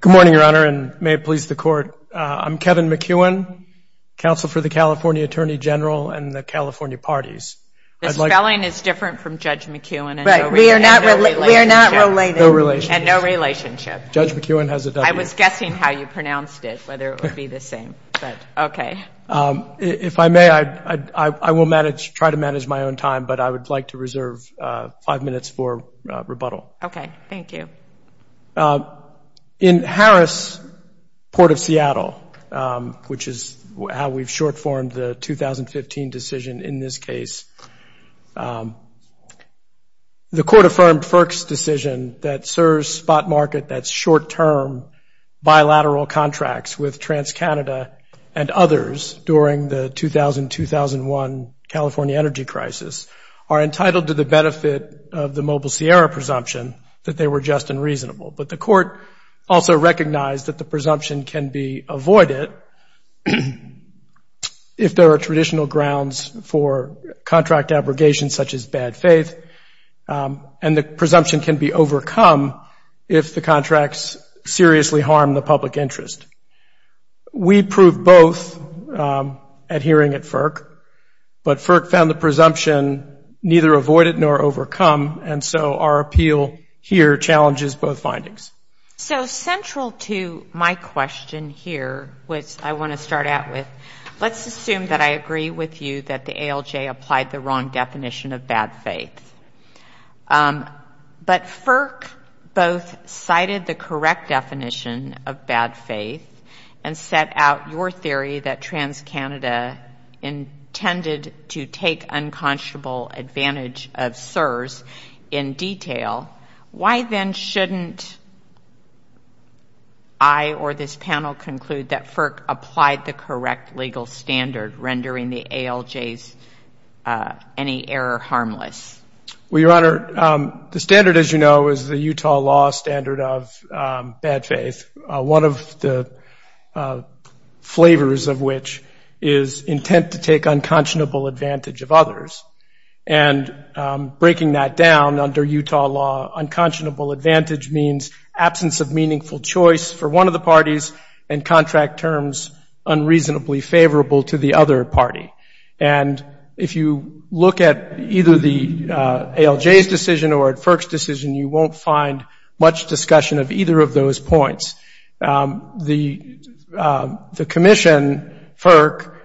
Good morning, Your Honor, and may it please the Court. I'm Kevin McEwen, Counsel for the California Attorney General and the California Parties. The spelling is different from Judge McEwen and no relationship. We are not related. We are not related. No relationship. And no relationship. Judge McEwen has a W. I was guessing how you pronounced it, whether it would be the same, but okay. If I may, I will try to manage my own time, but I would like to reserve five minutes for rebuttal. Okay. Thank you. Thank you. In Harris, Port of Seattle, which is how we've short-formed the 2015 decision in this case, the Court affirmed FERC's decision that serves spot market that's short-term bilateral contracts with TransCanada and others during the 2000-2001 California energy crisis are entitled to the But the Court also recognized that the presumption can be avoided if there are traditional grounds for contract abrogation, such as bad faith, and the presumption can be overcome if the contracts seriously harm the public interest. We proved both at hearing at FERC, but FERC found the presumption neither avoided nor So central to my question here, which I want to start out with, let's assume that I agree with you that the ALJ applied the wrong definition of bad faith. But FERC both cited the correct definition of bad faith and set out your theory that TransCanada intended to take unconscionable advantage of CSRS in detail. Why then shouldn't I or this panel conclude that FERC applied the correct legal standard rendering the ALJ's any error harmless? Well, Your Honor, the standard, as you know, is the Utah law standard of bad faith, one of the flavors of which is intent to take unconscionable advantage of others. And breaking that down under Utah law, unconscionable advantage means absence of meaningful choice for one of the parties and contract terms unreasonably favorable to the other party. And if you look at either the ALJ's decision or at FERC's decision, you won't find much discussion of either of those points. The commission, FERC,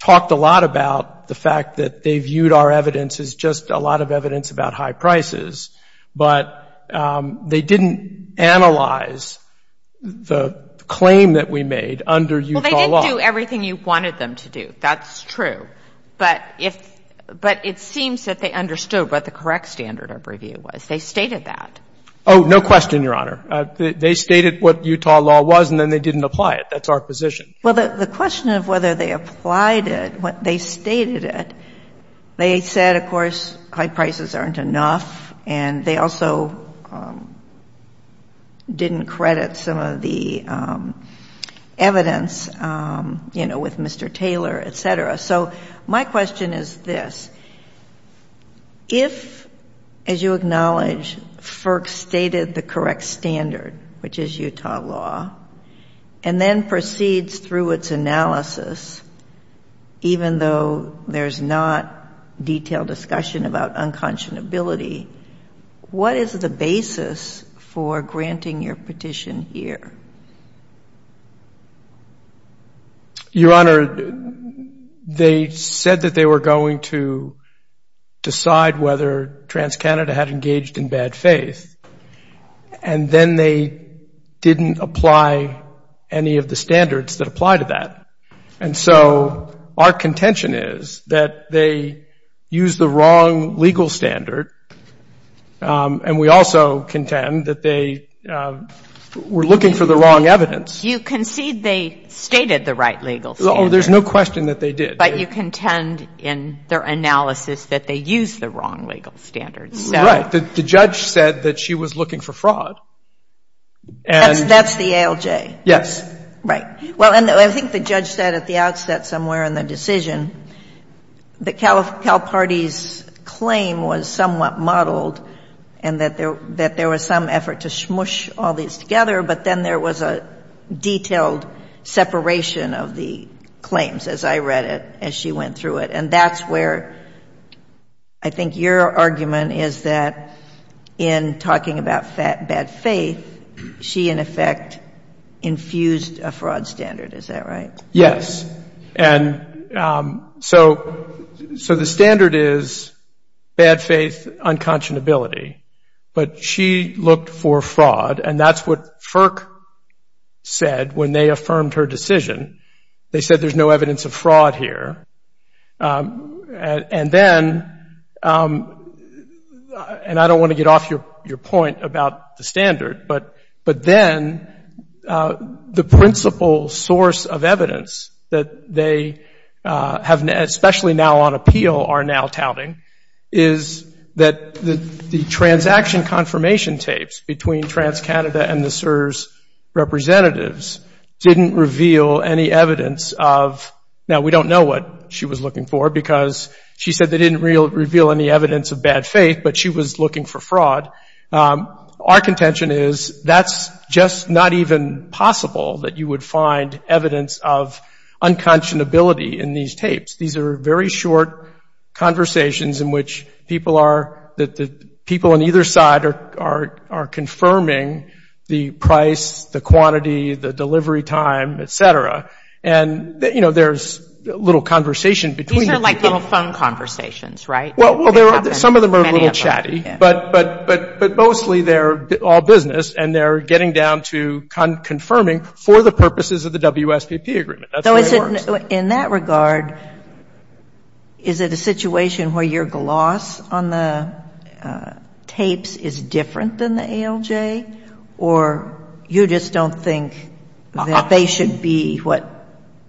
talked a lot about the fact that they viewed our evidence as just a lot of evidence about high prices, but they didn't analyze the claim that we made under Utah law. Well, they didn't do everything you wanted them to do. That's true. But it seems that they understood what the correct standard of review was. They stated that. Oh, no question, Your Honor. They stated what Utah law was, and then they didn't apply it. That's our position. Well, the question of whether they applied it, what they stated it, they said, of course, high prices aren't enough. And they also didn't credit some of the evidence, you know, with Mr. Taylor, et cetera. So my question is this. If, as you acknowledge, FERC stated the correct standard, which is Utah law, and then proceeds through its analysis, even though there's not detailed discussion about unconscionability, what is the basis for granting your petition here? Your Honor, they said that they were going to decide whether TransCanada had engaged in bad faith, and then they didn't apply any of the standards that apply to that. And so our contention is that they used the wrong legal standard, and we also contend that they were looking for the wrong evidence. You concede they stated the right legal standard. Oh, there's no question that they did. But you contend in their analysis that they used the wrong legal standard. Right. The judge said that she was looking for fraud. That's the ALJ. Yes. Right. Well, and I think the judge said at the outset somewhere in the decision that Caliparte's claim was somewhat muddled and that there was some effort to smush all these together, but then there was a detailed separation of the claims, as I read it, as she went through it. And that's where I think your argument is that in talking about bad faith, she, in effect, infused a fraud standard. Is that right? Yes. And so the standard is bad faith, unconscionability. But she looked for fraud. She looked for fraud and that's what FERC said when they affirmed her decision. They said there's no evidence of fraud here. And then, and I don't want to get off your point about the standard, but then the principal source of evidence that they have, especially now on appeal, are now touting, is that the transaction confirmation tapes between TransCanada and the CSRS representatives didn't reveal any evidence of, now we don't know what she was looking for because she said they didn't reveal any evidence of bad faith, but she was looking for fraud. Our contention is that's just not even possible that you would find evidence of unconscionability in these tapes. These are very short conversations in which people are, people on either side are confirming the price, the quantity, the delivery time, et cetera. And, you know, there's little conversation between the people. These are like little phone conversations, right? Well, some of them are a little chatty, but mostly they're all business and they're getting down to confirming for the purposes of the WSPP agreement. That's the way it works. In that regard, is it a situation where your gloss on the tapes is different than the ALJ, or you just don't think that they should be what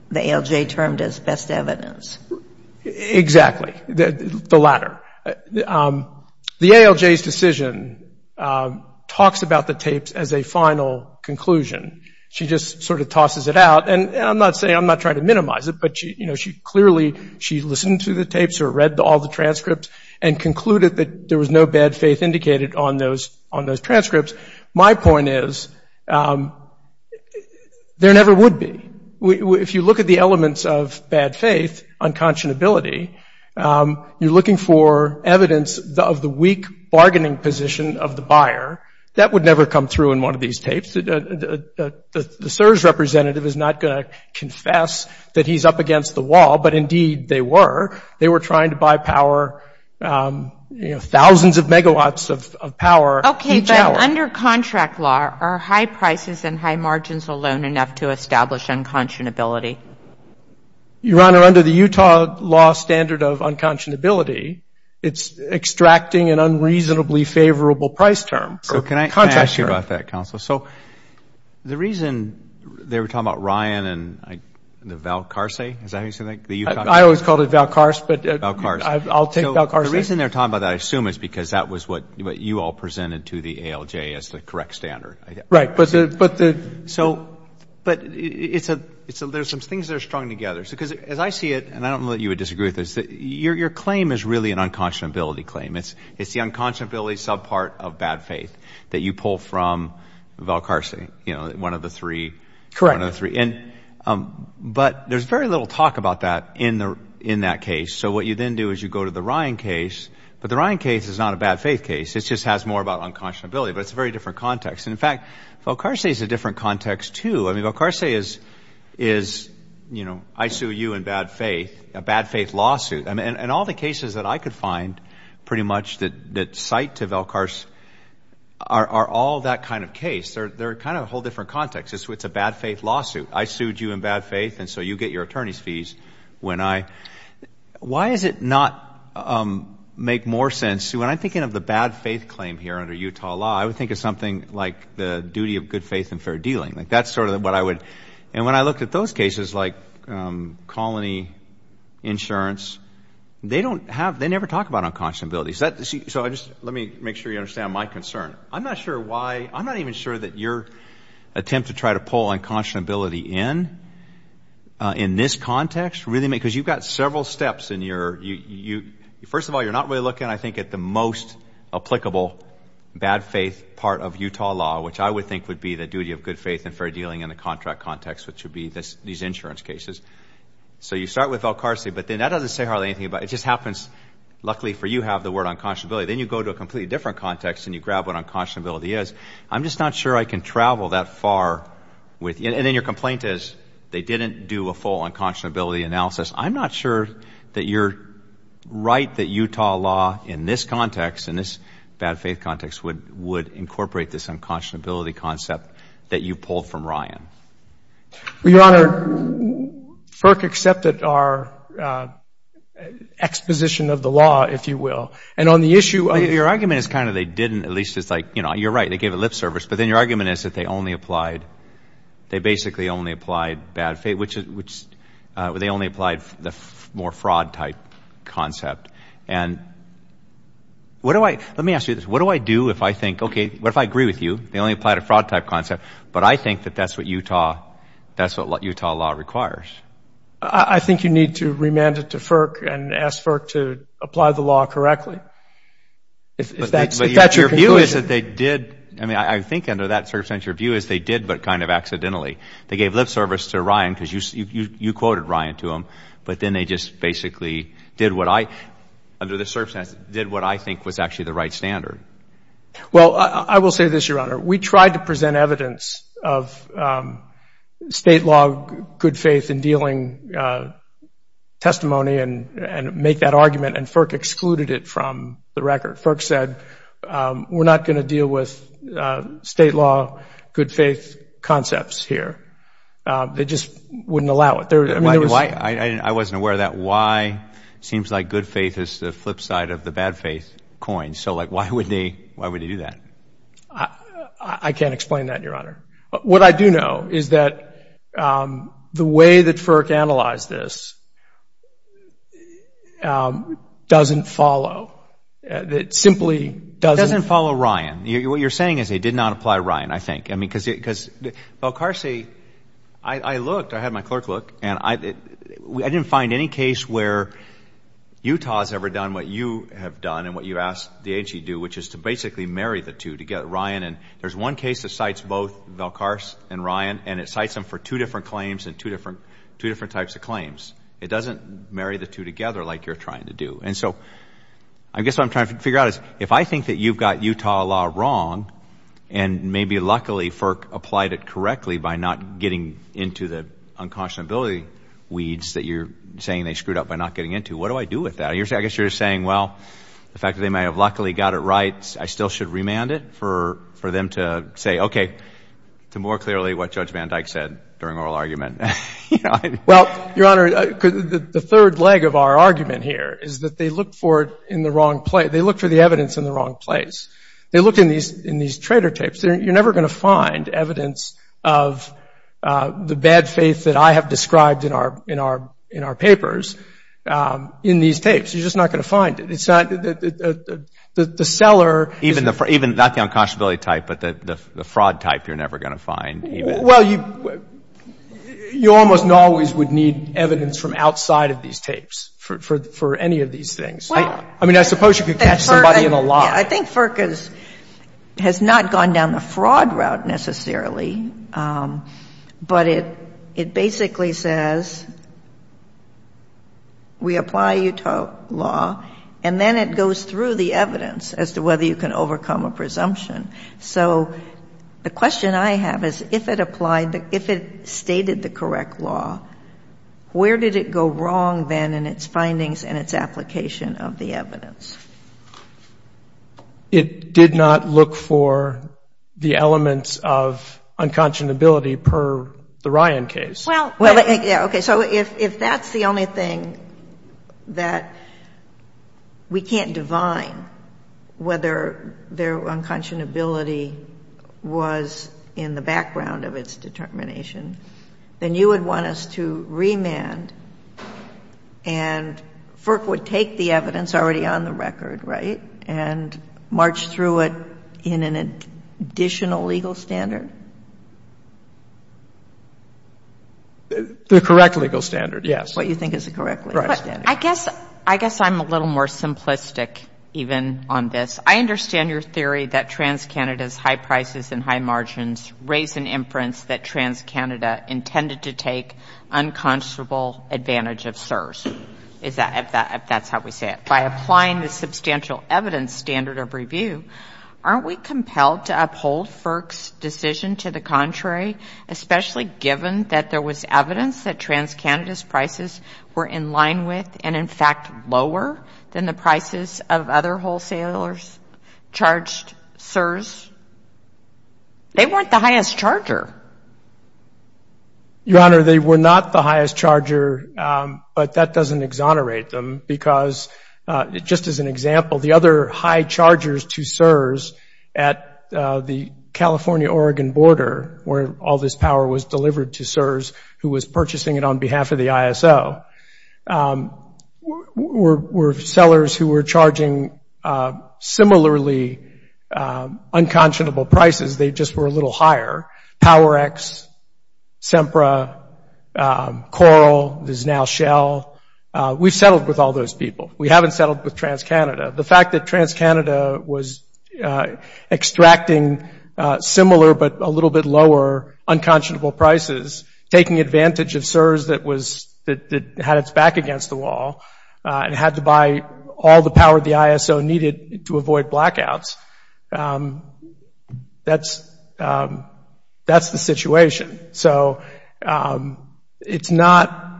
the ALJ termed as best evidence? Exactly. The latter. The ALJ's decision talks about the tapes as a final conclusion. She just sort of tosses it out. And I'm not saying, I'm not trying to minimize it, but she, you know, she clearly, she listened to the tapes or read all the transcripts and concluded that there was no bad faith indicated on those transcripts. My point is there never would be. If you look at the elements of bad faith, unconscionability, you're looking for evidence of the weak bargaining position of the buyer. That would never come through in one of these tapes. The CSRS representative is not going to confess that he's up against the wall, but indeed they were. They were trying to buy power, you know, thousands of megawatts of power. Okay, but under contract law, are high prices and high margins alone enough to establish unconscionability? Your Honor, under the Utah law standard of unconscionability, it's extracting an unreasonably favorable price term. So can I ask you about that, Counselor? So the reason they were talking about Ryan and the Valcarce, is that how you say that? I always called it Valcarce, but I'll take Valcarce. So the reason they're talking about that, I assume, is because that was what you all presented to the ALJ as the correct standard. Right, but the... So, but it's a, there's some things that are strung together. Because as I see it, and I don't know that you would disagree with this, your claim is really an unconscionability claim. It's the unconscionability sub-part of bad faith that you pull from Valcarce, you know, one of the three. Correct. One of the three. But there's very little talk about that in that case. So what you then do is you go to the Ryan case, but the Ryan case is not a bad faith case. It just has more about unconscionability, but it's a very different context. And in fact, Valcarce is a different context too. I mean, Valcarce is, you know, I sue you in bad faith, a bad faith lawsuit. I sued you in bad faith, and so you get your attorney's fees when I... Why does it not make more sense, when I'm thinking of the bad faith claim here under Utah law, I would think of something like the duty of good faith and fair dealing. That's never talked about unconscionability. So let me make sure you understand my concern. I'm not sure why, I'm not even sure that your attempt to try to pull unconscionability in, in this context, really, because you've got several steps in your, first of all, you're not really looking, I think, at the most applicable bad faith part of Utah law, which I would think would be the duty of good faith and fair dealing in the contract context, which would be these insurance cases. So you start with Valcarce, but then that doesn't say hardly anything about it. It just happens, luckily for you, have the word unconscionability. Then you go to a completely different context and you grab what unconscionability is. I'm just not sure I can travel that far with... And then your complaint is, they didn't do a full unconscionability analysis. I'm not sure that you're right that Utah law in this context, in this bad faith context, would incorporate this unconscionability concept that you pulled from Ryan. Well, Your Honor, FERC accepted our exposition of the law, if you will. And on the issue of... Your argument is kind of, they didn't, at least it's like, you know, you're right, they gave a lip service. But then your argument is that they only applied, they basically only applied bad faith, which, which they only applied the more fraud type concept. And what do I, let me ask you this, what do I do if I think, okay, what if I agree with you? They only applied a fraud type concept, but I think that that's what Utah, that's what Utah law requires. I think you need to remand it to FERC and ask FERC to apply the law correctly. If that's your conclusion. But your view is that they did, I mean, I think under that circumstance, your view is they did, but kind of accidentally. They gave lip service to Ryan because you quoted Ryan to them, but then they just basically did what I, under this circumstance, did what I think was actually the right standard. Well, I will say this, Your Honor. We tried to present evidence of state law, good faith in dealing testimony and, and make that argument and FERC excluded it from the record. FERC said, we're not going to deal with state law, good faith concepts here. They just wouldn't allow it. Why? I wasn't aware of that. Why? It seems like good faith is the flip side of the bad faith coin. So like, why would they, why would they do that? I can't explain that, Your Honor. What I do know is that the way that FERC analyzed this doesn't follow. It simply doesn't. Doesn't follow Ryan. What you're saying is they did not apply Ryan, I think. I mean, because, because, well, Carsey, I looked, I had my clerk look, and I, I didn't find any case where Utah has ever done what you have done and what you asked the agency to do, which is to basically marry the two together, Ryan. And there's one case that cites both Val Carse and Ryan, and it cites them for two different claims and two different, two different types of claims. It doesn't marry the two together like you're trying to do. And so I guess what I'm trying to figure out is if I think that you've got Utah law wrong and maybe luckily FERC applied it correctly by not getting into the unconscionability weeds that you're saying they screwed up by not getting into, what do I do with that? I guess you're saying, well, the fact that they may have luckily got it right, I still should remand it for, for them to say, okay, to more clearly what Judge Van Dyke said during oral argument. Well, Your Honor, the third leg of our argument here is that they look for it in the wrong place. They look for the evidence in the wrong place. They look in these, in these trader tapes. You're never going to find evidence of the bad faith that I have described in our, in our, in our papers in these tapes. You're just not going to find it. It's not the, the, the, the, the, the seller. Even the, even not the unconscionability type, but the, the fraud type you're never going to find. Well, you, you almost always would need evidence from outside of these tapes for, for, for any of these things. I mean, I suppose you could catch somebody in a lie. I think FERC has, has not gone down the fraud route necessarily, but it, it basically says we apply Utah law, and then it goes through the evidence as to whether you can overcome a presumption. So the question I have is if it applied, if it stated the correct law, where did it go wrong then in its findings and its application of the evidence? It did not look for the elements of unconscionability per the Ryan case. Well. Well, yeah, okay. So if, if that's the only thing that we can't divine whether their unconscionability was in the background of its determination, then you would want us to remand and FERC would take the evidence already on the record, right? And march through it in an additional legal standard? The correct legal standard, yes. What you think is the correct legal standard. Right. I guess, I guess I'm a little more simplistic even on this. I understand your theory that TransCanada's high prices and high margins raise an inference that TransCanada intended to take unconscionable advantage of CSRS, if that's how we say it. By applying the substantial evidence standard of review, aren't we compelled to uphold FERC's decision to the contrary, especially given that there was evidence that TransCanada's prices were in line with and in fact lower than the prices of other Your Honor, they were not the highest charger, but that doesn't exonerate them because just as an example, the other high chargers to CSRS at the California-Oregon border where all this power was delivered to CSRS, who was purchasing it on behalf of the ISO, were sellers who were charging similarly unconscionable prices. They just were a little higher. Power X, Sempra, Coral, there's now Shell. We've settled with all those people. We haven't settled with TransCanada. The fact that TransCanada was extracting similar but a little bit lower unconscionable prices, taking advantage of CSRS that had its back against the wall and had to buy all the power the ISO needed to avoid blackouts, that's the situation. So it's not,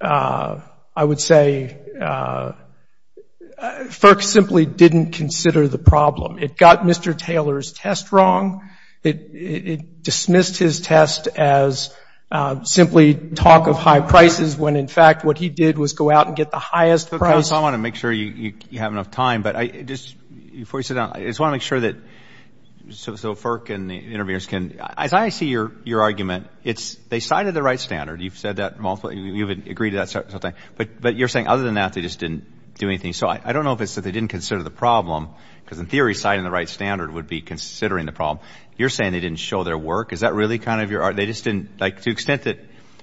I would say, FERC simply didn't consider the problem. It got Mr. Taylor's test wrong. It dismissed his test as simply talk of high prices when in fact what he did was go out and get the highest price. Well, I want to make sure you have enough time, but I just want to make sure that so FERC and the interviewers can, as I see your argument, they cited the right standard. You've said that multiple times. You've agreed to that several times. But you're saying other than that, they just didn't do anything. So I don't know if it's that they didn't consider the problem because in theory, citing the right standard would be considering the problem. You're saying they didn't show their work. Is that really kind of your argument? They just didn't, like to the extent that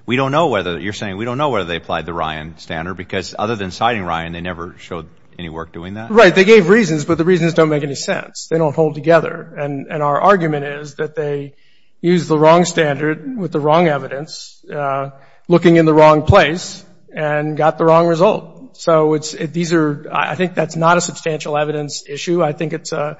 we don't know whether, you're saying, we don't know whether they applied the Ryan standard because other than citing Ryan, they never showed any work doing that? Right. They gave reasons, but the reasons don't make any sense. They don't hold together. And our argument is that they used the wrong standard with the wrong evidence, looking in the wrong place, and got the wrong result. So it's, these are, I think that's not a substantial evidence issue. I think it's a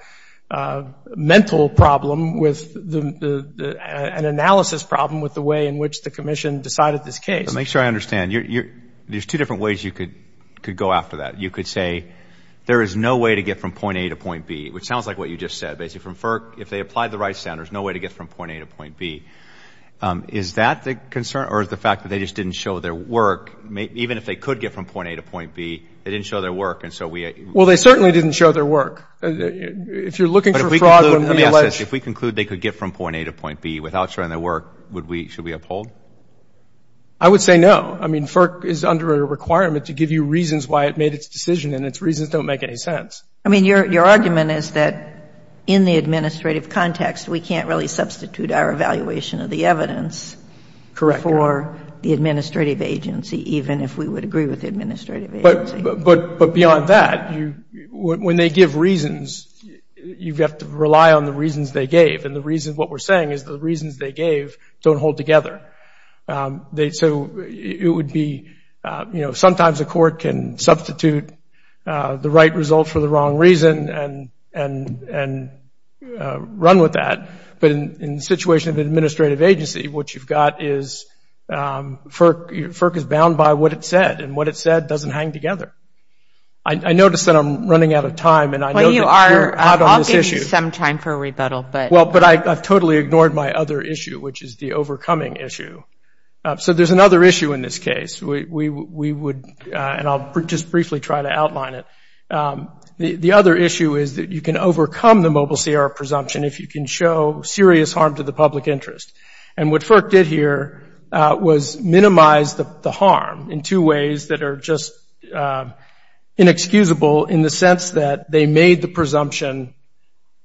mental problem with the, an analysis problem with the way in which the Commission decided this case. So make sure I understand. There's two different ways you could go after that. You could say there is no way to get from point A to point B, which sounds like what you just said, basically. If they applied the right standard, there's no way to get from point A to point B. Is that the concern, or is the fact that they just didn't show their work, even if they could get from point A to point B, they didn't show their work, and so we Well, they certainly didn't show their work. If you're looking for fraud, let me ask this. If we conclude they could get from point A to point B without showing their work, should we uphold? I would say no. I mean, FERC is under a requirement to give you reasons why it made its decision, and its reasons don't make any sense. I mean, your argument is that in the administrative context, we can't really substitute our evaluation of the evidence for the administrative agency, even if we would agree with the administrative agency. But beyond that, when they give reasons, you have to rely on the reasons they gave. And the reason, what we're saying is the reasons they gave don't hold together. So it would be, you know, sometimes a court can substitute the right result for the wrong reason and run with that, but in the situation of an administrative agency, what you've got is FERC is bound by what it said, and what it said doesn't hang together. I notice that I'm running out of time, and I know that you're out on this issue. Well, you are. I'll give you some time for rebuttal, but I've totally ignored my other issue, which is the overcoming issue. So there's another issue in this case. We would, and I'll just briefly try to outline it. The other issue is that you can overcome the mobile CR presumption if you can show serious harm to the public interest. And what FERC did here was minimize the harm in two ways that are just inexcusable, in the sense that they made the presumption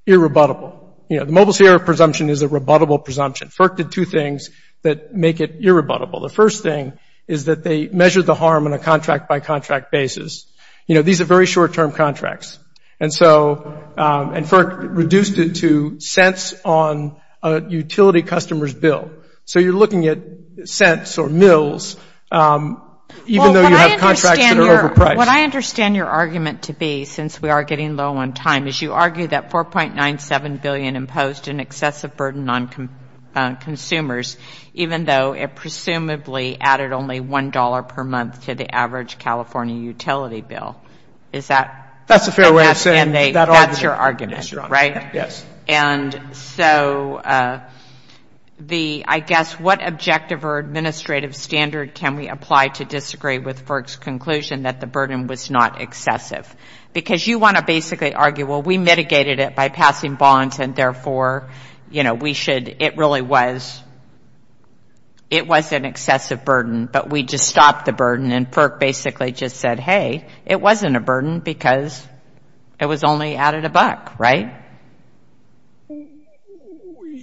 irrebuttable. You know, the mobile CR presumption is a rebuttable presumption. FERC did two things that make it irrebuttable. The first thing is that they measured the harm on a contract-by-contract basis. You know, these are very short-term contracts. And so, and FERC reduced it to cents on a utility customer's bill. So you're looking at cents or mills, even though you have contracts that are overpriced. Well, what I understand your argument to be, since we are getting low on time, is you argue that $4.97 billion imposed an excessive burden on consumers, even though it presumably added only $1 per month to the average California utility bill. Is that? That's a fair way of saying that argument. That's your argument, right? Yes. And so the, I guess, what objective or administrative standard can we apply to disagree with FERC's conclusion that the burden was not excessive? Because you want to basically argue, well, we mitigated it by passing bonds, and therefore, you know, we should, it really was, it was an excessive burden, but we just stopped the burden. And FERC basically just said, hey, it wasn't a burden because it was only added a buck, right?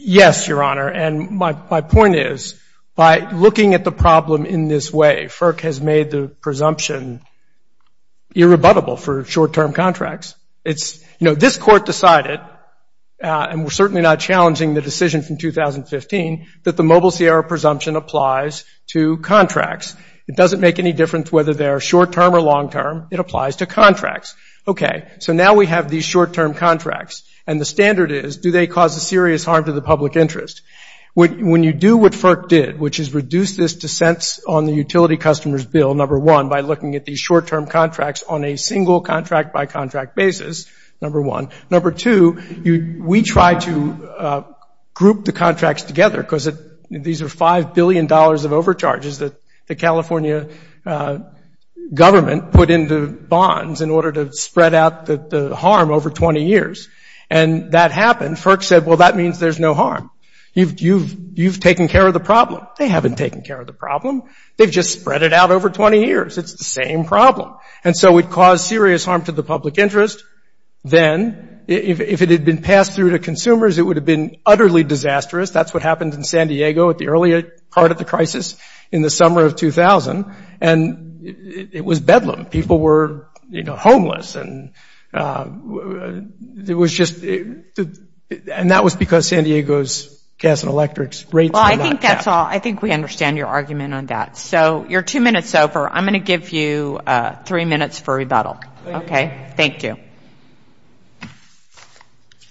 Yes, Your Honor. And my point is, by looking at the problem in this way, you're rebuttable for short-term contracts. It's, you know, this court decided, and we're certainly not challenging the decision from 2015, that the Mobile Sierra presumption applies to contracts. It doesn't make any difference whether they're short-term or long-term. It applies to contracts. Okay, so now we have these short-term contracts, and the standard is, do they cause a serious harm to the public interest? When you do what FERC did, which is reduce this dissent on the utility customers bill, number one, by looking at these short-term contracts on a single contract-by-contract basis, number one. Number two, we tried to group the contracts together, because these are $5 billion of overcharges that the California government put into bonds in order to spread out the harm over 20 years. And that happened. FERC said, well, that means there's no harm. You've taken care of the problem. They haven't taken care of the problem. They've just spread it out over 20 years. It's the same problem. And so it caused serious harm to the public interest. Then, if it had been passed through to consumers, it would have been utterly disastrous. That's what happened in San Diego at the earlier part of the crisis in the summer of 2000. And it was bedlam. People were, you know, homeless, and it was just the – and that was because San Diego's gas and electrics rates were not kept. Well, I think we understand your argument on that. So you're two minutes over. I'm going to give you three minutes for rebuttal. Okay? Thank you.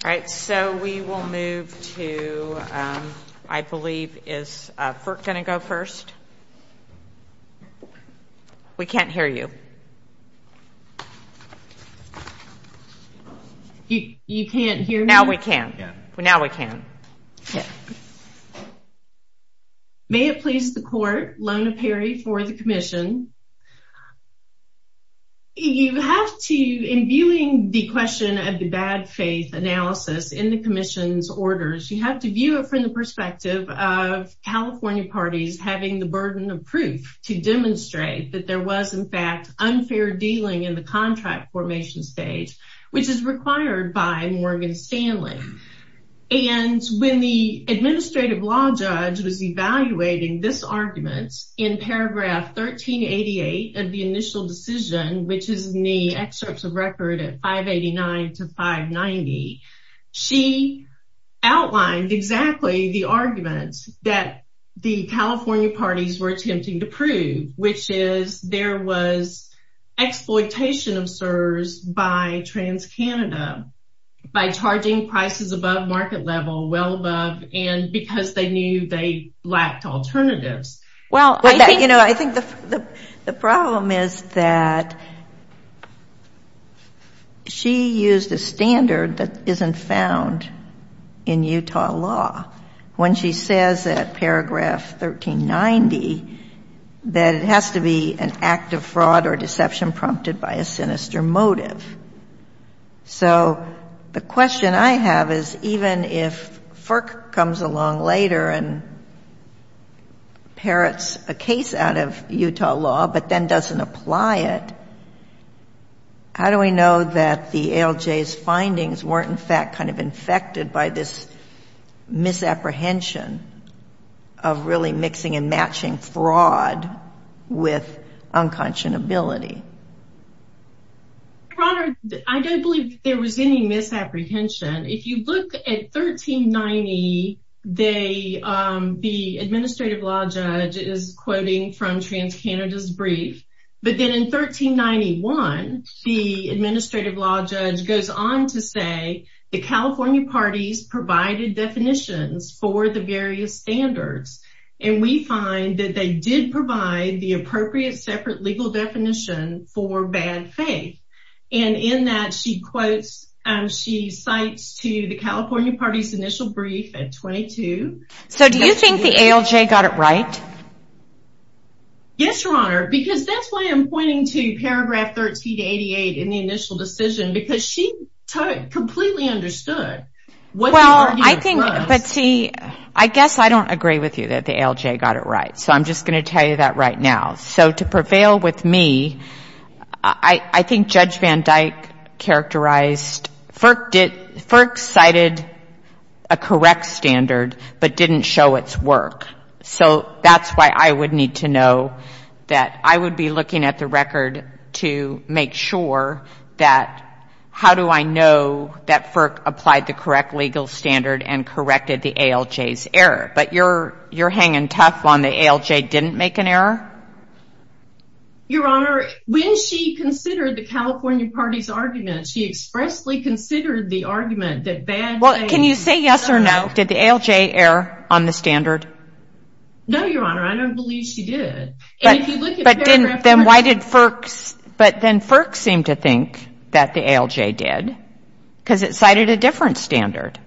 All right. So we will move to, I believe, is FERC going to go first? We can't hear you. You can't hear me? Now we can. May it please the court, Lona Perry for the commission. You have to, in viewing the question of the bad faith analysis in the commission's orders, you have to view it from the perspective of California parties having the burden of proof to demonstrate that there was, in fact, unfair dealing in the contract formation stage, which is required by Morgan Stanley. And when the administrative law judge was evaluating this argument in paragraph 1388 of the initial decision, which is in the excerpts of record at 589 to 590, she outlined exactly the arguments that the California parties were attempting to prove, which is there was exploitation of CSRS by TransCanada by charging prices above market level, well above, and because they knew they lacked alternatives. Well, I think the problem is that she used a standard that isn't found in Utah law. When she says at paragraph 1390 that it has to be an act of fraud or deception prompted by a sinister motive. So the question I have is even if FERC comes along later and parrots a case out of Utah law but then doesn't apply it, how do we know that the ALJ's findings weren't, in fact, kind of infected by this misapprehension of really mixing and matching fraud with unconscionability? Your Honor, I don't believe there was any misapprehension. If you look at 1390, the administrative law judge is quoting from TransCanada's brief. But then in 1391, the administrative law judge goes on to say the California parties provided definitions for the various standards. And we find that they did provide the appropriate separate legal definition for bad faith. And in that she quotes, she cites to the California parties' initial brief at 22. So do you think the ALJ got it right? Yes, Your Honor, because that's why I'm pointing to paragraph 1388 in the initial decision. Because she completely understood what the argument was. Well, I think, but see, I guess I don't agree with you that the ALJ got it right. So I'm just going to tell you that right now. So to prevail with me, I think Judge Van Dyke characterized, FERC cited a correct standard but didn't show its work. So that's why I would need to know that. I would be looking at the record to make sure that how do I know that FERC applied the correct legal standard and corrected the ALJ's error. But you're hanging tough on the ALJ didn't make an error? Your Honor, when she considered the California parties' argument, she expressly considered the argument that bad faith. Well, can you say yes or no? Did the ALJ err on the standard? No, Your Honor, I don't believe she did. But then why did FERC, but then FERC seemed to think that the ALJ did because it cited a different standard.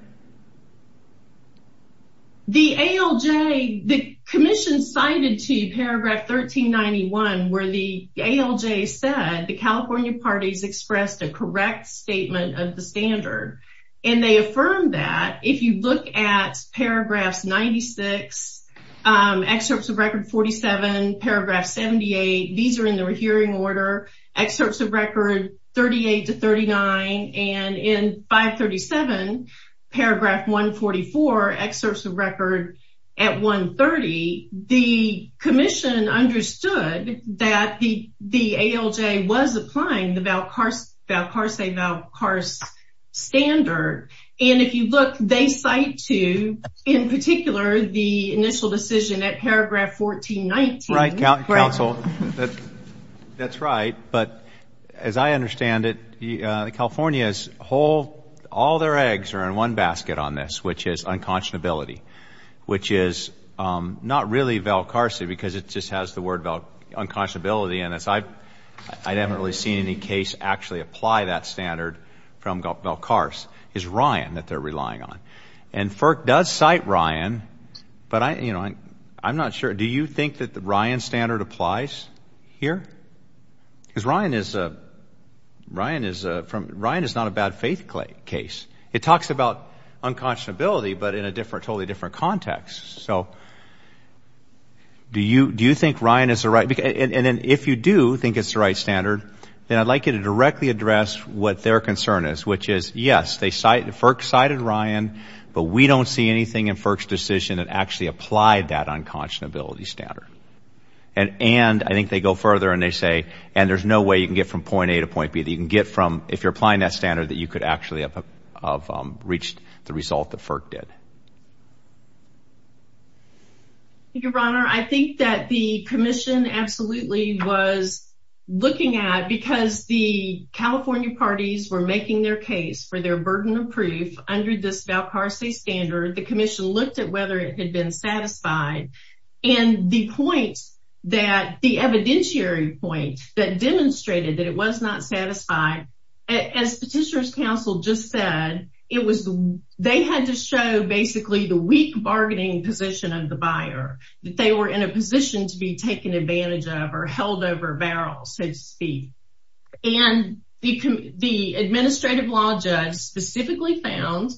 The ALJ, the commission cited to paragraph 1391 where the ALJ said the California parties expressed a correct statement of the standard. And they affirmed that. If you look at paragraphs 96, excerpts of record 47, paragraph 78, these are in the hearing order, excerpts of record 38 to 39, and in 537, paragraph 144, excerpts of record at 130, the commission understood that the ALJ was applying the Valcarce-Valcarce standard. And if you look, they cite to, in particular, the initial decision at paragraph 1419. That's right, counsel. That's right. But as I understand it, California's whole, all their eggs are in one basket on this, which is unconscionability, which is not really Valcarce because it just has the word unconscionability in it. I haven't really seen any case actually apply that standard from Valcarce. It's Ryan that they're relying on. And FERC does cite Ryan, but I'm not sure. Do you think that the Ryan standard applies here? Because Ryan is not a bad faith case. It talks about unconscionability but in a totally different context. So do you think Ryan is the right? And then if you do think it's the right standard, then I'd like you to directly address what their concern is, which is, yes, FERC cited Ryan, but we don't see anything in FERC's decision that actually applied that unconscionability standard. And I think they go further and they say, and there's no way you can get from point A to point B. You can get from, if you're applying that standard, that you could actually have reached the result that FERC did. Thank you, Your Honor. I think that the commission absolutely was looking at, because the California parties were making their case for their burden of proof under this Valcarce standard, the commission looked at whether it had been satisfied. And the point that, the evidentiary point that demonstrated that it was not satisfied, as Petitioner's Counsel just said, they had to show basically the weak bargaining position of the buyer, that they were in a position to be taken advantage of or held over a barrel, so to speak. And the administrative law judge specifically found,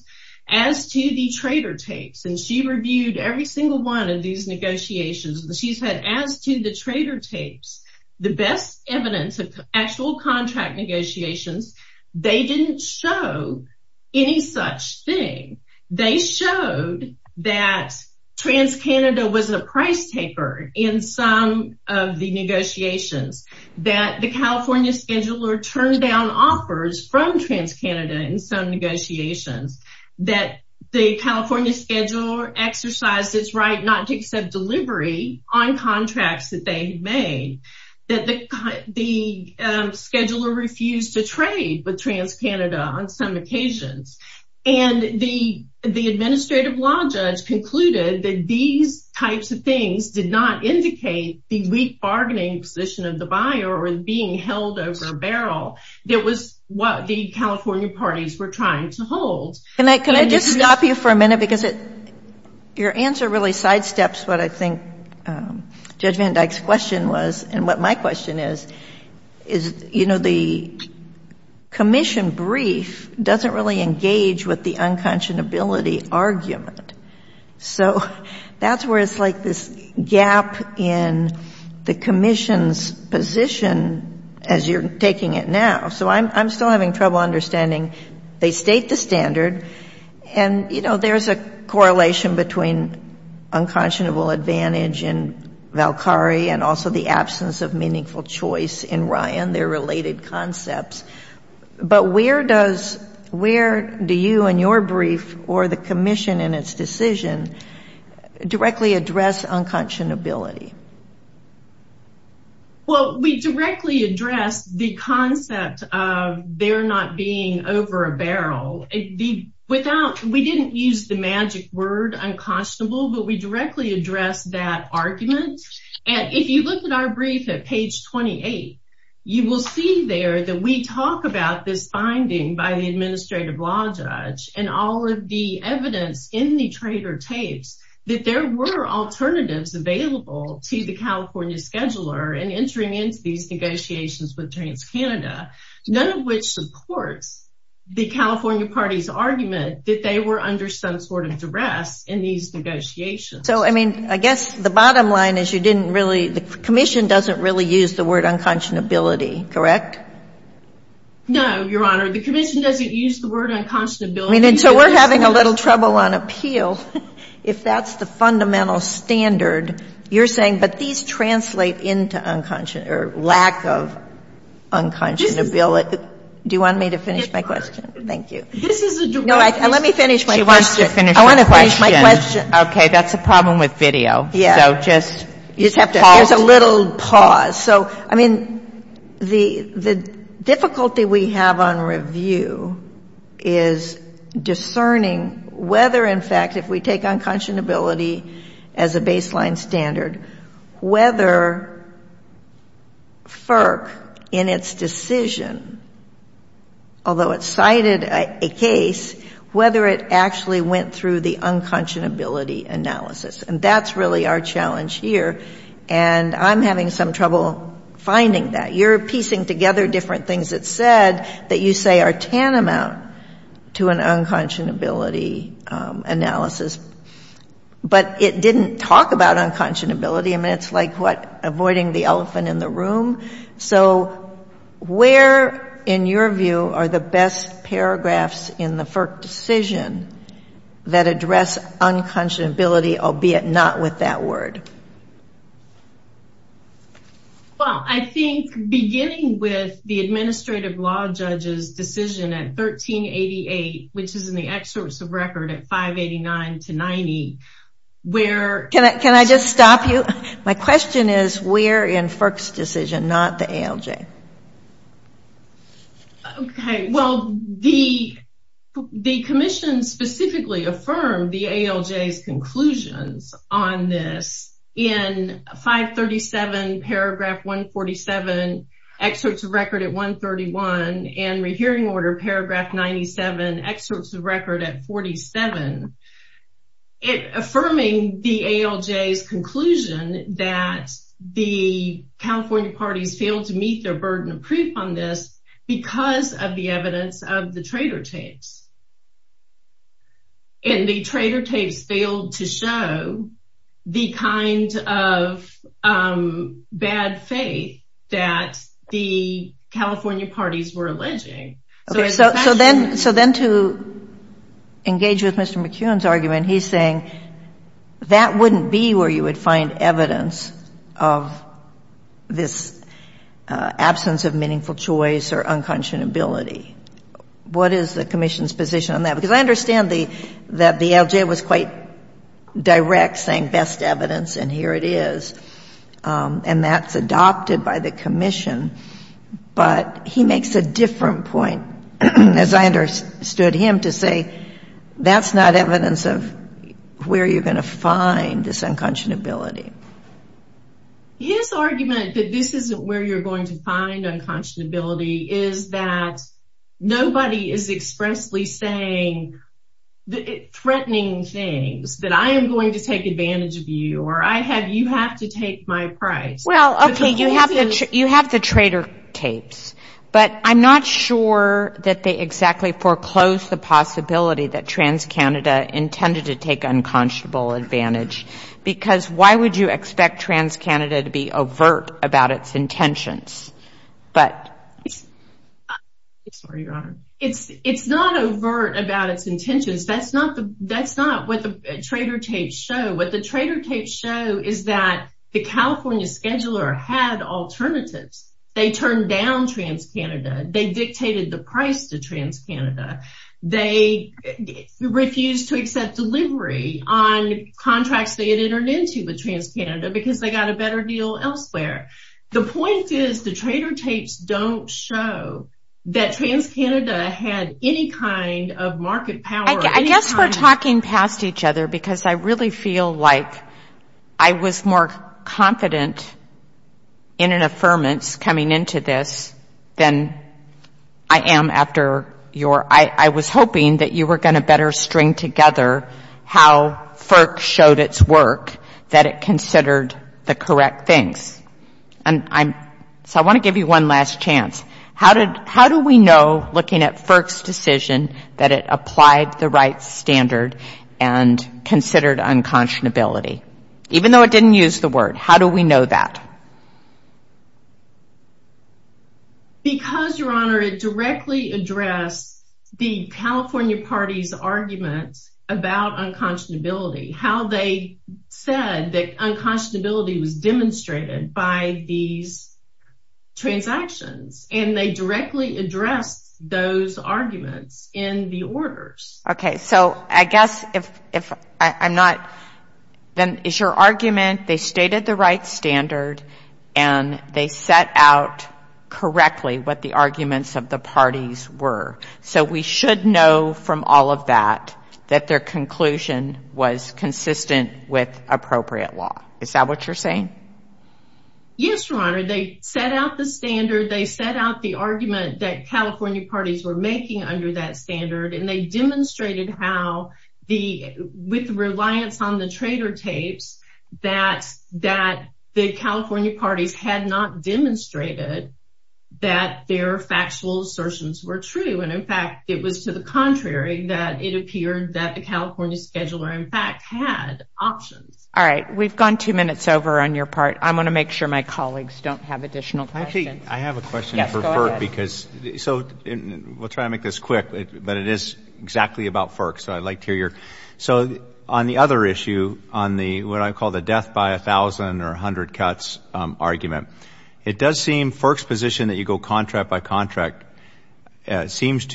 as to the trader tapes, and she reviewed every single one of these negotiations, she said, as to the trader tapes, the best evidence of actual contract negotiations, they didn't show any such thing. They showed that TransCanada was a price taker in some of the negotiations, that the California scheduler turned down offers from TransCanada in some negotiations, that the California scheduler exercised its right not to accept delivery on contracts that they made, that the scheduler refused to trade with TransCanada on some occasions. And the administrative law judge concluded that these types of things did not indicate the weak bargaining position of the buyer or being held over a barrel. It was what the California parties were trying to hold. Can I just stop you for a minute, because your answer really sidesteps what I think Judge Van Dyke's question was, and what my question is, is, you know, the commission brief doesn't really engage with the unconscionability argument. So that's where it's like this gap in the commission's position as you're taking it now. So I'm still having trouble understanding. They state the standard, and, you know, there's a correlation between unconscionable advantage and Valkyrie and also the absence of meaningful choice in Ryan, their related concepts. But where do you and your brief or the commission in its decision directly address unconscionability? Well, we directly address the concept of there not being over a barrel. We didn't use the magic word unconscionable, but we directly address that argument. And if you look at our brief at page 28, you will see there that we talk about this finding by the administrative law judge and all of the evidence in the trader tapes that there were alternatives available to the California scheduler in entering into these negotiations with TransCanada, none of which supports the California party's argument that they were under some sort of duress in these negotiations. So, I mean, I guess the bottom line is you didn't really, the commission doesn't really use the word unconscionability, correct? No, Your Honor. The commission doesn't use the word unconscionability. I mean, and so we're having a little trouble on appeal. If that's the fundamental standard, you're saying, but these translate into lack of unconscionability. Do you want me to finish my question? Yes, Your Honor. Thank you. No, let me finish my question. She wants to finish her question. I want to finish my question. Okay. That's a problem with video. Yeah. So just pause. There's a little pause. So, I mean, the difficulty we have on review is discerning whether, in fact, if we take unconscionability as a baseline standard, whether FERC, in its decision, although it cited a case, whether it actually went through the unconscionability analysis. And that's really our challenge here. And I'm having some trouble finding that. You're piecing together different things it said that you say are tantamount to an unconscionability analysis. But it didn't talk about unconscionability. I mean, it's like, what, avoiding the elephant in the room? So where, in your view, are the best paragraphs in the FERC decision that address unconscionability, albeit not with that word? Well, I think beginning with the administrative law judge's decision at 1388, which is in the excerpts of record at 589 to 90, where- Can I just stop you? My question is, where in FERC's decision, not the ALJ? Okay. Well, the commission specifically affirmed the ALJ's conclusions on this in 537 paragraph 147, excerpts of record at 131, and rehearing order paragraph 97, at 47, affirming the ALJ's conclusion that the California parties failed to meet their burden of proof on this because of the evidence of the traitor tapes. And the traitor tapes failed to show the kind of bad faith that the California parties were alleging. Okay. So then to engage with Mr. McKeown's argument, he's saying that wouldn't be where you would find evidence of this absence of meaningful choice or unconscionability. What is the commission's position on that? Because I understand that the ALJ was quite direct, saying best evidence, and here it is, and that's adopted by the commission. But he makes a different point, as I understood him, to say that's not evidence of where you're going to find this unconscionability. His argument that this isn't where you're going to find unconscionability is that nobody is expressly saying threatening things, that I am going to take advantage of you, or you have to take my price. Well, okay, you have the traitor tapes, but I'm not sure that they exactly foreclose the possibility that TransCanada intended to take unconscionable advantage. Because why would you expect TransCanada to be overt about its intentions? It's not overt about its intentions. That's not what the traitor tapes show. What the traitor tapes show is that the California scheduler had alternatives. They turned down TransCanada. They dictated the price to TransCanada. They refused to accept delivery on contracts they had entered into with TransCanada because they got a better deal elsewhere. The point is the traitor tapes don't show that TransCanada had any kind of market power. I guess we're talking past each other because I really feel like I was more confident in an affirmance coming into this than I am after your I was hoping that you were going to better string together how FERC showed its work, that it considered the correct things. I want to give you one last chance. How do we know, looking at FERC's decision, that it applied the right standard and considered unconscionability? Even though it didn't use the word, how do we know that? Because, Your Honor, it directly addressed the California party's arguments about unconscionability, how they said that unconscionability was demonstrated by these transactions. And they directly addressed those arguments in the orders. Okay, so I guess if I'm not, then is your argument they stated the right standard and they set out correctly what the arguments of the parties were? So we should know from all of that that their conclusion was consistent with appropriate law. Is that what you're saying? Yes, Your Honor, they set out the standard, they set out the argument that California parties were making under that standard and they demonstrated how, with reliance on the traitor tapes, that the California parties had not demonstrated that their factual assertions were true. In fact, it was to the contrary, that it appeared that the California scheduler, in fact, had options. All right, we've gone two minutes over on your part. I want to make sure my colleagues don't have additional questions. I have a question for FERC. So we'll try to make this quick, but it is exactly about FERC, so I'd like to hear your. So on the other issue, on what I call the death by 1,000 or 100 cuts argument, it does seem FERC's position that you go contract by contract seems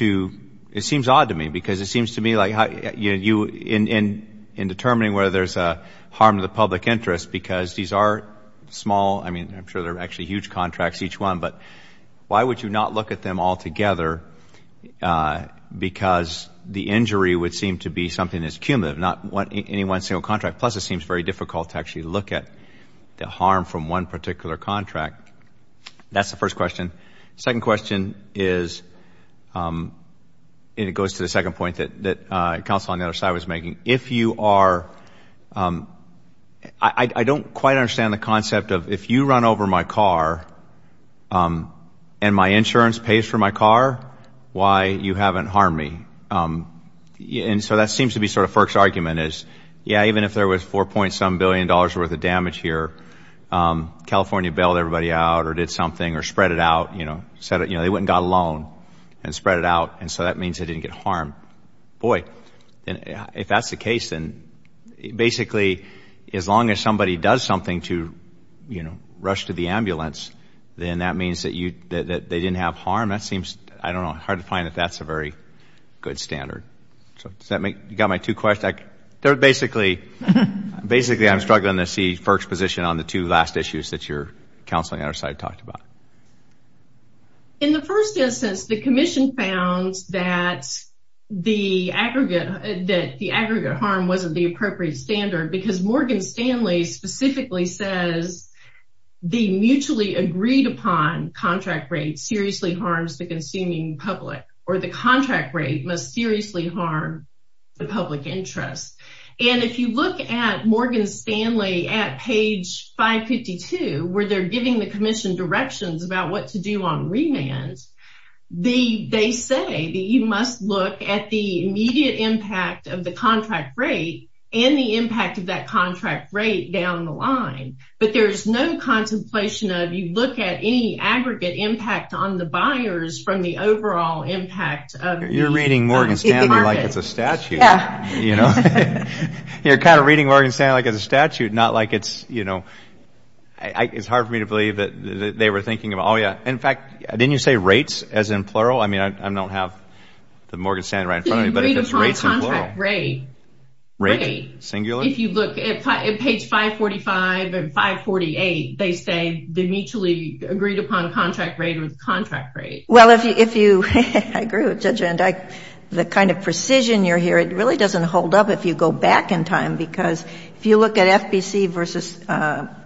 odd to me because it seems to me like in determining whether there's a harm to the public interest, because these are small, I mean, I'm sure they're actually huge contracts, each one, but why would you not look at them all together because the injury would seem to be something that's cumulative, not any one single contract, plus it seems very difficult to actually look at the harm from one particular contract. That's the first question. The second question is, and it goes to the second point that counsel on the other side was making, if you are, I don't quite understand the concept of if you run over my car and my insurance pays for my car, why you haven't harmed me. And so that seems to be sort of FERC's argument is, yeah, even if there was $4.7 billion worth of damage here, California bailed everybody out or did something or spread it out, you know, they went and got a loan and spread it out, and so that means they didn't get harmed. Boy, if that's the case, then basically as long as somebody does something to, you know, rush to the ambulance, then that means that they didn't have harm. That seems, I don't know, hard to find that that's a very good standard. So does that make you got my two questions? Basically, I'm struggling to see FERC's position on the two last issues that your counsel on the other side talked about. In the first instance, the commission found that the aggregate harm wasn't the appropriate standard because Morgan Stanley specifically says the mutually agreed upon contract rate seriously harms the consuming public or the contract rate must seriously harm the public interest. And if you look at Morgan Stanley at page 552 where they're giving the commission directions about what to do on remand, they say that you must look at the immediate impact of the contract rate and the impact of that contract rate down the line, but there's no contemplation of you look at any aggregate impact on the buyers from the overall impact of the market. You're reading Morgan Stanley like it's a statute. Yeah. You know, you're kind of reading Morgan Stanley like it's a statute, not like it's, you know, it's hard for me to believe that they were thinking of, oh, yeah. In fact, didn't you say rates as in plural? I mean, I don't have the Morgan Stanley right in front of me, but if it's rates in plural. Agreed upon contract rate. Rate? Singular? If you look at page 545 and 548, they say the mutually agreed upon contract rate or the contract rate. Well, if you, I agree with Judge Van Dyke. The kind of precision you're hearing really doesn't hold up if you go back in time because if you look at FBC versus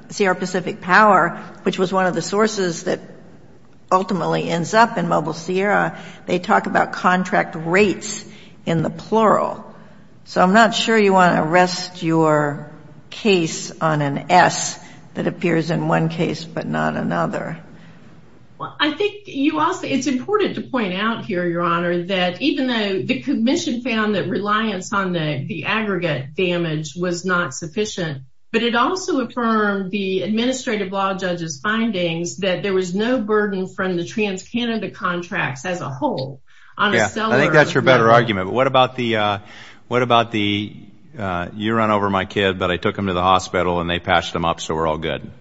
Sierra Pacific Power, which was one of the sources that ultimately ends up in Mobile Sierra, they talk about contract rates in the plural. So I'm not sure you want to rest your case on an S that appears in one case but not another. Well, I think you also, it's important to point out here, Your Honor, that even though the commission found that reliance on the aggregate damage was not sufficient, but it also affirmed the administrative law judge's findings that there was no burden from the trans-Canada contracts as a whole. I think that's your better argument, but what about the you run over my kid, but I took him to the hospital and they patched him up so we're all good?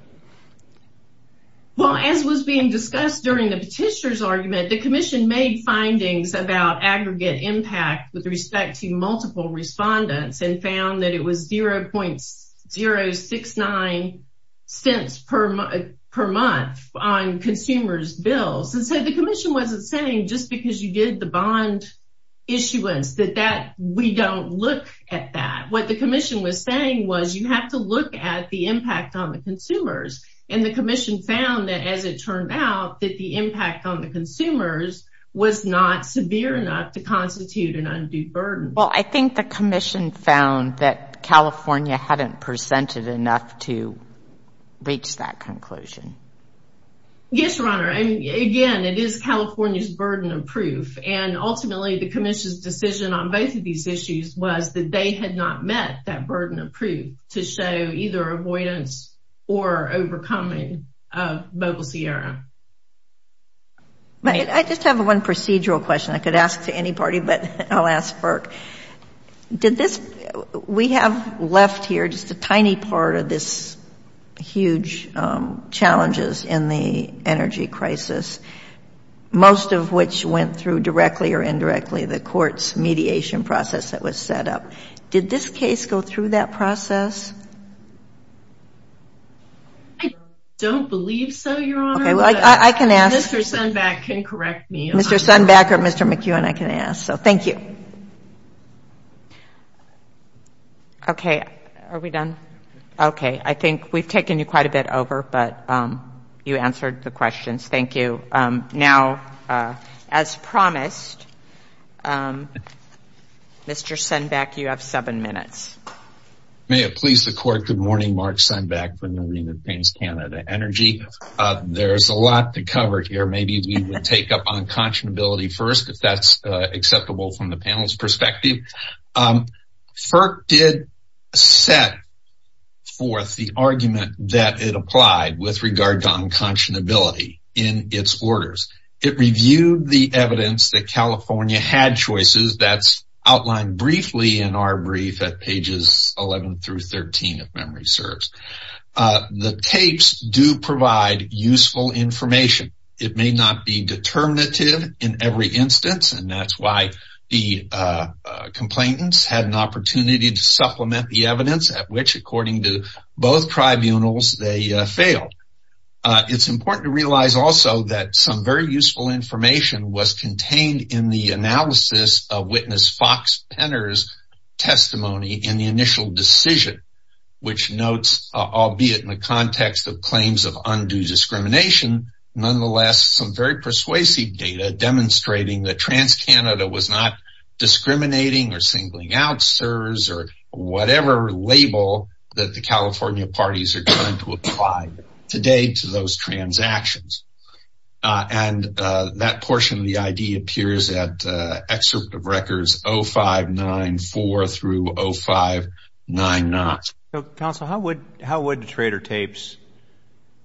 The commission made findings about aggregate impact with respect to multiple respondents and found that it was 0.069 cents per month on consumers' bills. And so the commission wasn't saying just because you did the bond issuance that we don't look at that. What the commission was saying was you have to look at the impact on the consumers. And the commission found that as it turned out, that the impact on the consumers was not severe enough to constitute an undue burden. Well, I think the commission found that California hadn't presented enough to reach that conclusion. Yes, Your Honor, and again, it is California's burden of proof. And ultimately the commission's decision on both of these issues was that they had not met that burden of proof to show either avoidance or overcoming of Mobile Sierra. I just have one procedural question I could ask to any party, but I'll ask Burke. We have left here just a tiny part of this huge challenges in the energy crisis, most of which went through directly or indirectly the court's mediation process that was set up. Did this case go through that process? I don't believe so, Your Honor. Okay. Well, I can ask. Mr. Sundback can correct me. Mr. Sundback or Mr. McEwen, I can ask. So thank you. Okay. Are we done? Okay. I think we've taken you quite a bit over, but you answered the questions. Thank you. Okay. Now, as promised, Mr. Sundback, you have seven minutes. May it please the court, good morning. Mark Sundback from Marina Paints Canada Energy. There's a lot to cover here. Maybe we would take up unconscionability first, if that's acceptable from the panel's perspective. FERC did set forth the argument that it applied with regard to unconscionability in its orders. It reviewed the evidence that California had choices. That's outlined briefly in our brief at pages 11 through 13, if memory serves. The tapes do provide useful information. It may not be determinative in every instance, and that's why the complainants had an opportunity to supplement the evidence, at which, according to both tribunals, they failed. It's important to realize also that some very useful information was contained in the analysis of witness Fox Penner's testimony in the initial decision, which notes, albeit in the context of claims of undue discrimination, nonetheless some very persuasive data demonstrating that TransCanada was not discriminating or singling out CSRS or whatever label that the California parties are trying to apply today to those transactions. And that portion of the ID appears at excerpt of records 0594 through 0599. So, Counsel, how would Trader Tapes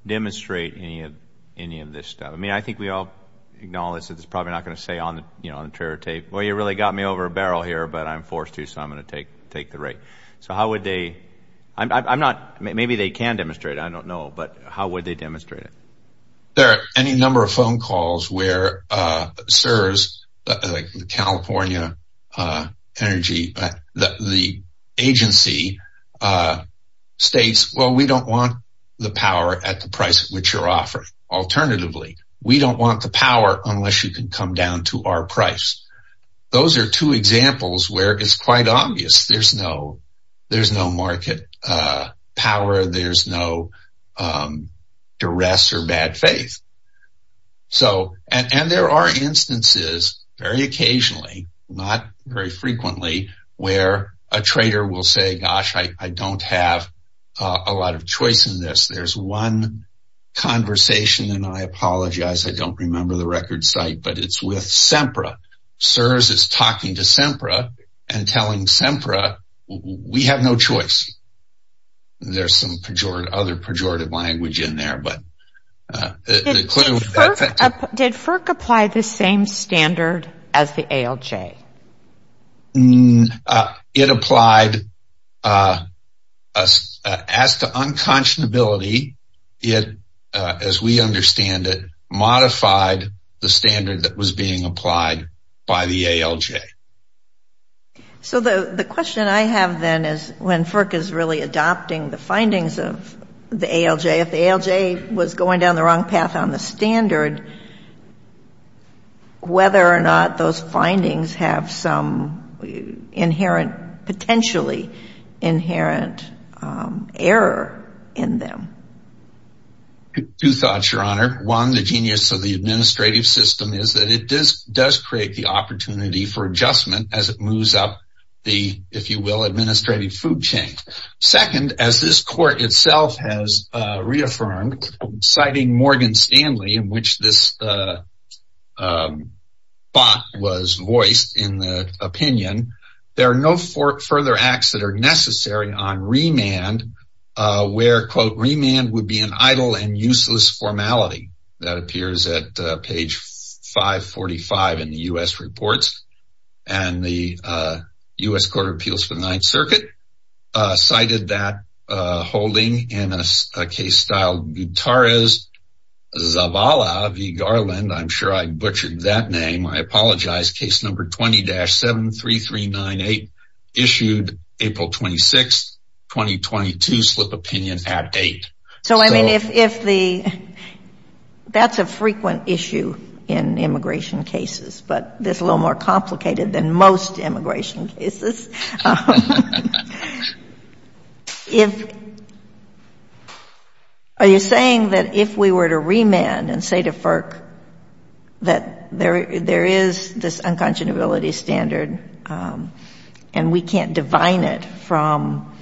demonstrate any of this stuff? I mean, I think we all acknowledge that it's probably not going to say on the Trader Tape, well, you really got me over a barrel here, but I'm forced to, so I'm going to take the rake. So how would they – I'm not – maybe they can demonstrate it. I don't know. But how would they demonstrate it? There are any number of phone calls where CSRS, like the California Energy – the agency states, well, we don't want the power at the price at which you're offering. Alternatively, we don't want the power unless you can come down to our price. Those are two examples where it's quite obvious there's no market power, where there's no duress or bad faith. So – and there are instances, very occasionally, not very frequently, where a trader will say, gosh, I don't have a lot of choice in this. There's one conversation, and I apologize, I don't remember the record site, but it's with SEMPRA. CSRS is talking to SEMPRA and telling SEMPRA, we have no choice. There's some other pejorative language in there, but – Did FERC apply the same standard as the ALJ? It applied – as to unconscionability, it, as we understand it, modified the standard that was being applied by the ALJ. So the question I have then is when FERC is really adopting the findings of the ALJ, if the ALJ was going down the wrong path on the standard, whether or not those findings have some inherent – potentially inherent error in them. Two thoughts, Your Honor. One, the genius of the administrative system is that it does create the opportunity for adjustment as it moves up the, if you will, administrative food chain. Second, as this court itself has reaffirmed, citing Morgan Stanley, in which this bot was voiced in the opinion, there are no further acts that are necessary on remand where, quote, And the U.S. Court of Appeals for the Ninth Circuit cited that holding in a case styled Gutierrez Zavala v. Garland. I'm sure I butchered that name. I apologize. Case number 20-73398 issued April 26, 2022, slip opinion at 8. So, I mean, if the – that's a frequent issue in immigration cases, but this is a little more complicated than most immigration cases. If – are you saying that if we were to remand and say to FERC that there is this unconscionability standard and we can't divine it from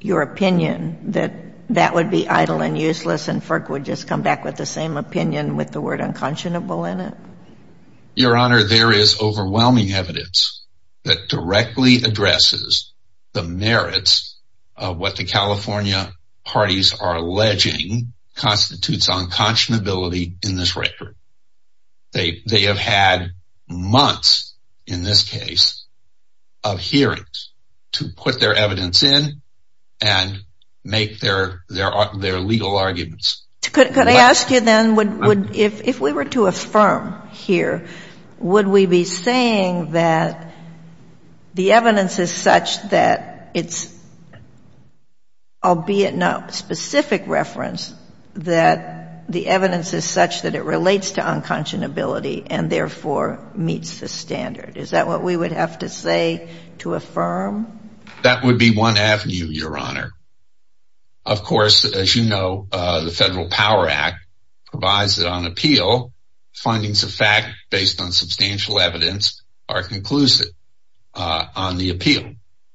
your opinion, that that would be idle and useless and FERC would just come back with the same opinion with the word unconscionable in it? Your Honor, there is overwhelming evidence that directly addresses the merits of what the California parties are alleging constitutes unconscionability in this record. They have had months in this case of hearings to put their evidence in and make their legal arguments. Could I ask you then, if we were to affirm here, would we be saying that the evidence is such that it's, albeit no specific reference, that the evidence is such that it relates to unconscionability and therefore meets the standard? Is that what we would have to say to affirm? That would be one avenue, Your Honor. Of course, as you know, the Federal Power Act provides that on appeal, findings of fact based on substantial evidence are conclusive on the appeal.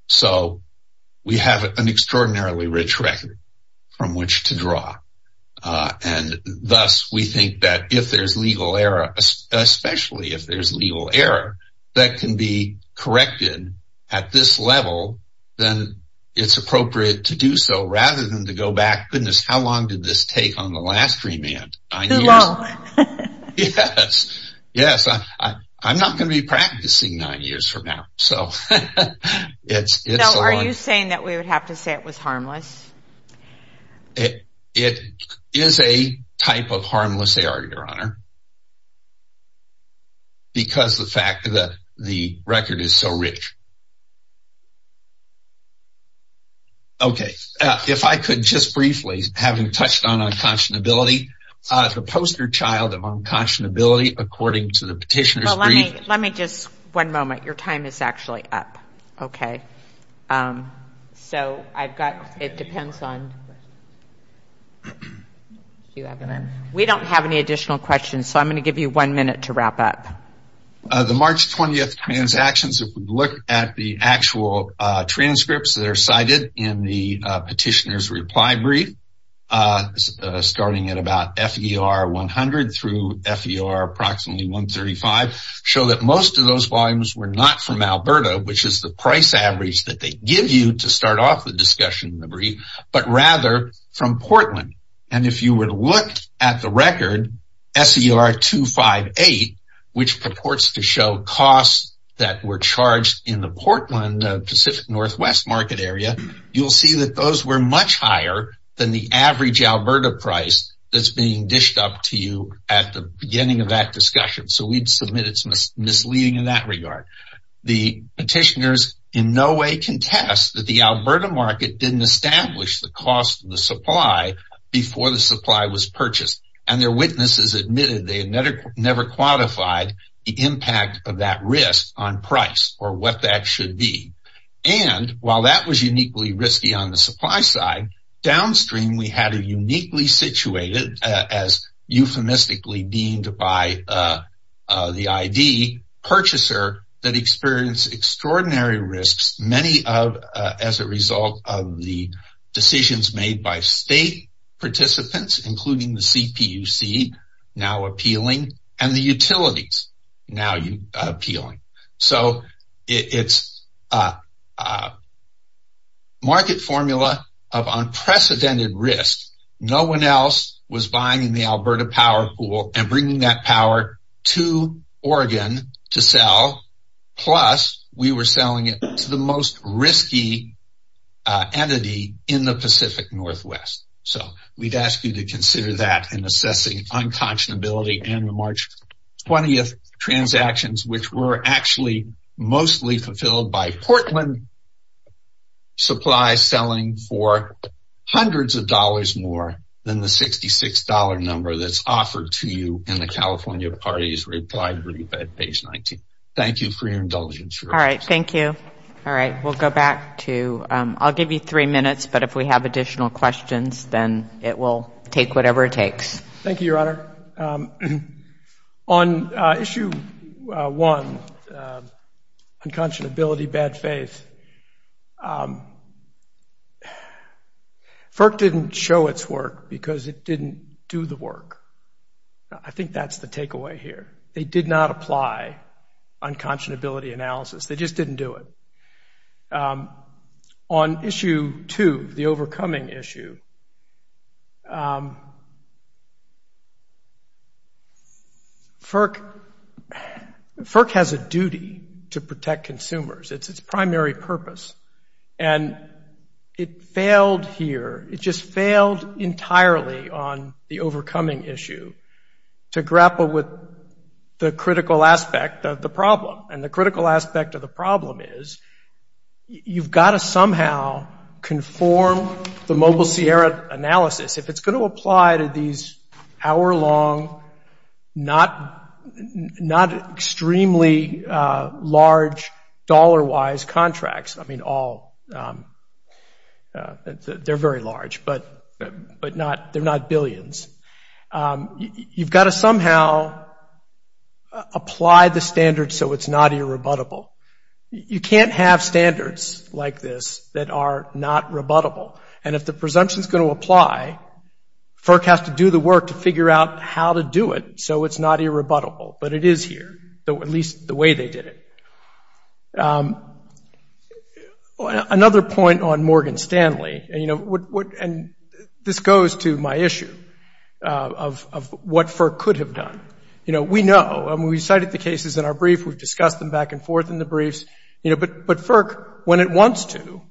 So, we have an extraordinarily rich record from which to draw. And thus, we think that if there's legal error, especially if there's legal error that can be corrected at this level, then it's appropriate to do so rather than to go back, goodness, how long did this take on the last remand? Too long. Yes, I'm not going to be practicing nine years from now. So, are you saying that we would have to say it was harmless? It is a type of harmless error, Your Honor, because the fact that the record is so rich. Okay, if I could just briefly, having touched on unconscionability, the poster child of unconscionability according to the petitioner's brief. Let me just, one moment, your time is actually up. Okay. So, I've got, it depends on, we don't have any additional questions, so I'm going to give you one minute to wrap up. The March 20th transactions, if we look at the actual transcripts that are cited in the petitioner's reply brief, starting at about FER 100 through FER approximately 135, show that most of those volumes were not from Alberta, which is the price average that they give you to start off the discussion in the brief, but rather from Portland. And if you would look at the record, SER 258, which purports to show costs that were charged in the Portland Pacific Northwest market area, you'll see that those were much higher than the average Alberta price that's being dished up to you at the beginning of that discussion. So, we'd submit it's misleading in that regard. The petitioners in no way contest that the Alberta market didn't establish the cost of the supply before the supply was purchased, and their witnesses admitted they had never quantified the impact of that risk on price or what that should be. And while that was uniquely risky on the supply side, downstream we had a uniquely situated, as euphemistically deemed by the ID, purchaser that experienced extraordinary risks, many of as a result of the decisions made by state participants, including the CPUC, now appealing, and the utilities, now appealing. So, it's a market formula of unprecedented risk. No one else was buying in the Alberta power pool and bringing that power to Oregon to sell, plus we were selling it to the most risky entity in the Pacific Northwest. So, we'd ask you to consider that in assessing unconscionability and the March 20th transactions, which were actually mostly fulfilled by Portland supply for hundreds of dollars more than the $66 number that's offered to you in the California party's reply brief at page 19. Thank you for your indulgence. All right, thank you. All right, we'll go back to, I'll give you three minutes, but if we have additional questions then it will take whatever it takes. Thank you, Your Honor. Your Honor, on issue one, unconscionability, bad faith, FERC didn't show its work because it didn't do the work. I think that's the takeaway here. They did not apply unconscionability analysis. They just didn't do it. On issue two, the overcoming issue, FERC has a duty to protect consumers. It's its primary purpose. And it failed here, it just failed entirely on the overcoming issue to grapple with the critical aspect of the problem. And the critical aspect of the problem is you've got to somehow conform the Mobile Sierra analysis. If it's going to apply to these hour-long, not extremely large dollar-wise contracts, I mean all, they're very large, but they're not billions. You've got to somehow apply the standards so it's not irrebuttable. You can't have standards like this that are not rebuttable. And if the presumption is going to apply, FERC has to do the work to figure out how to do it so it's not irrebuttable. But it is here, at least the way they did it. Another point on Morgan Stanley, and this goes to my issue of what FERC could have done. We know, and we cited the cases in our brief. We've discussed them back and forth in the briefs. But FERC, when it wants to,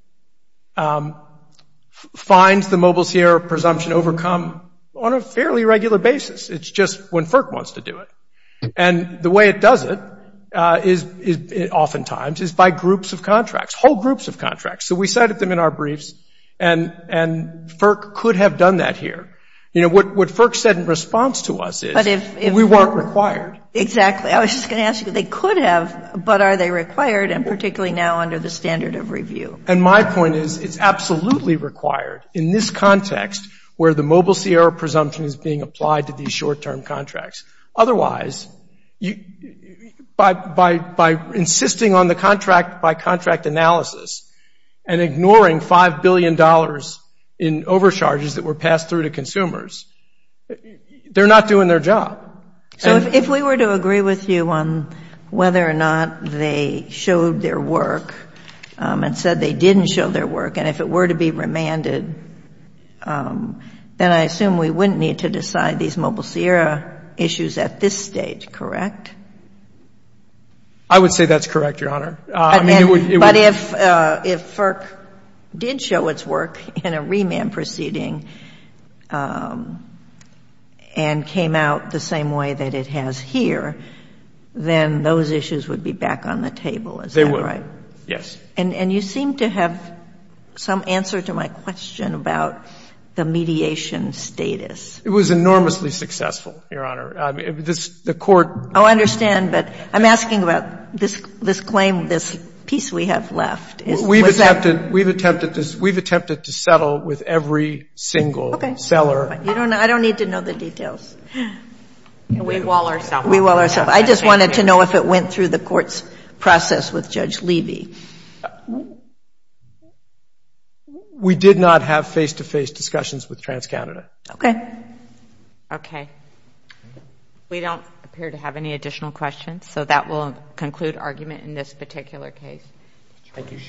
finds the Mobile Sierra presumption overcome on a fairly regular basis. It's just when FERC wants to do it. And the way it does it, oftentimes, is by groups of contracts, whole groups of contracts. So we cited them in our briefs, and FERC could have done that here. You know, what FERC said in response to us is we weren't required. Exactly. I was just going to ask you, they could have, but are they required, and particularly now under the standard of review? And my point is it's absolutely required in this context where the Mobile Sierra presumption is being applied to these short-term contracts. Otherwise, by insisting on the contract-by-contract analysis and ignoring $5 billion in overcharges that were passed through to consumers, they're not doing their job. So if we were to agree with you on whether or not they showed their work and said they didn't show their work, and if it were to be remanded, then I assume we wouldn't need to decide these Mobile Sierra issues at this stage, correct? I would say that's correct, Your Honor. But if FERC did show its work in a remand proceeding and came out the same way that it has here, then those issues would be back on the table, is that right? They would, yes. And you seem to have some answer to my question about the mediation status. It was enormously successful, Your Honor. The Court ---- Oh, I understand. But I'm asking about this claim, this piece we have left. We've attempted to settle with every single seller. Okay. I don't need to know the details. We wall ourselves. We wall ourselves. I just wanted to know if it went through the Court's process with Judge Levy. We did not have face-to-face discussions with TransCanada. Okay. Okay. We don't appear to have any additional questions, so that will conclude argument in this particular case. Thank you.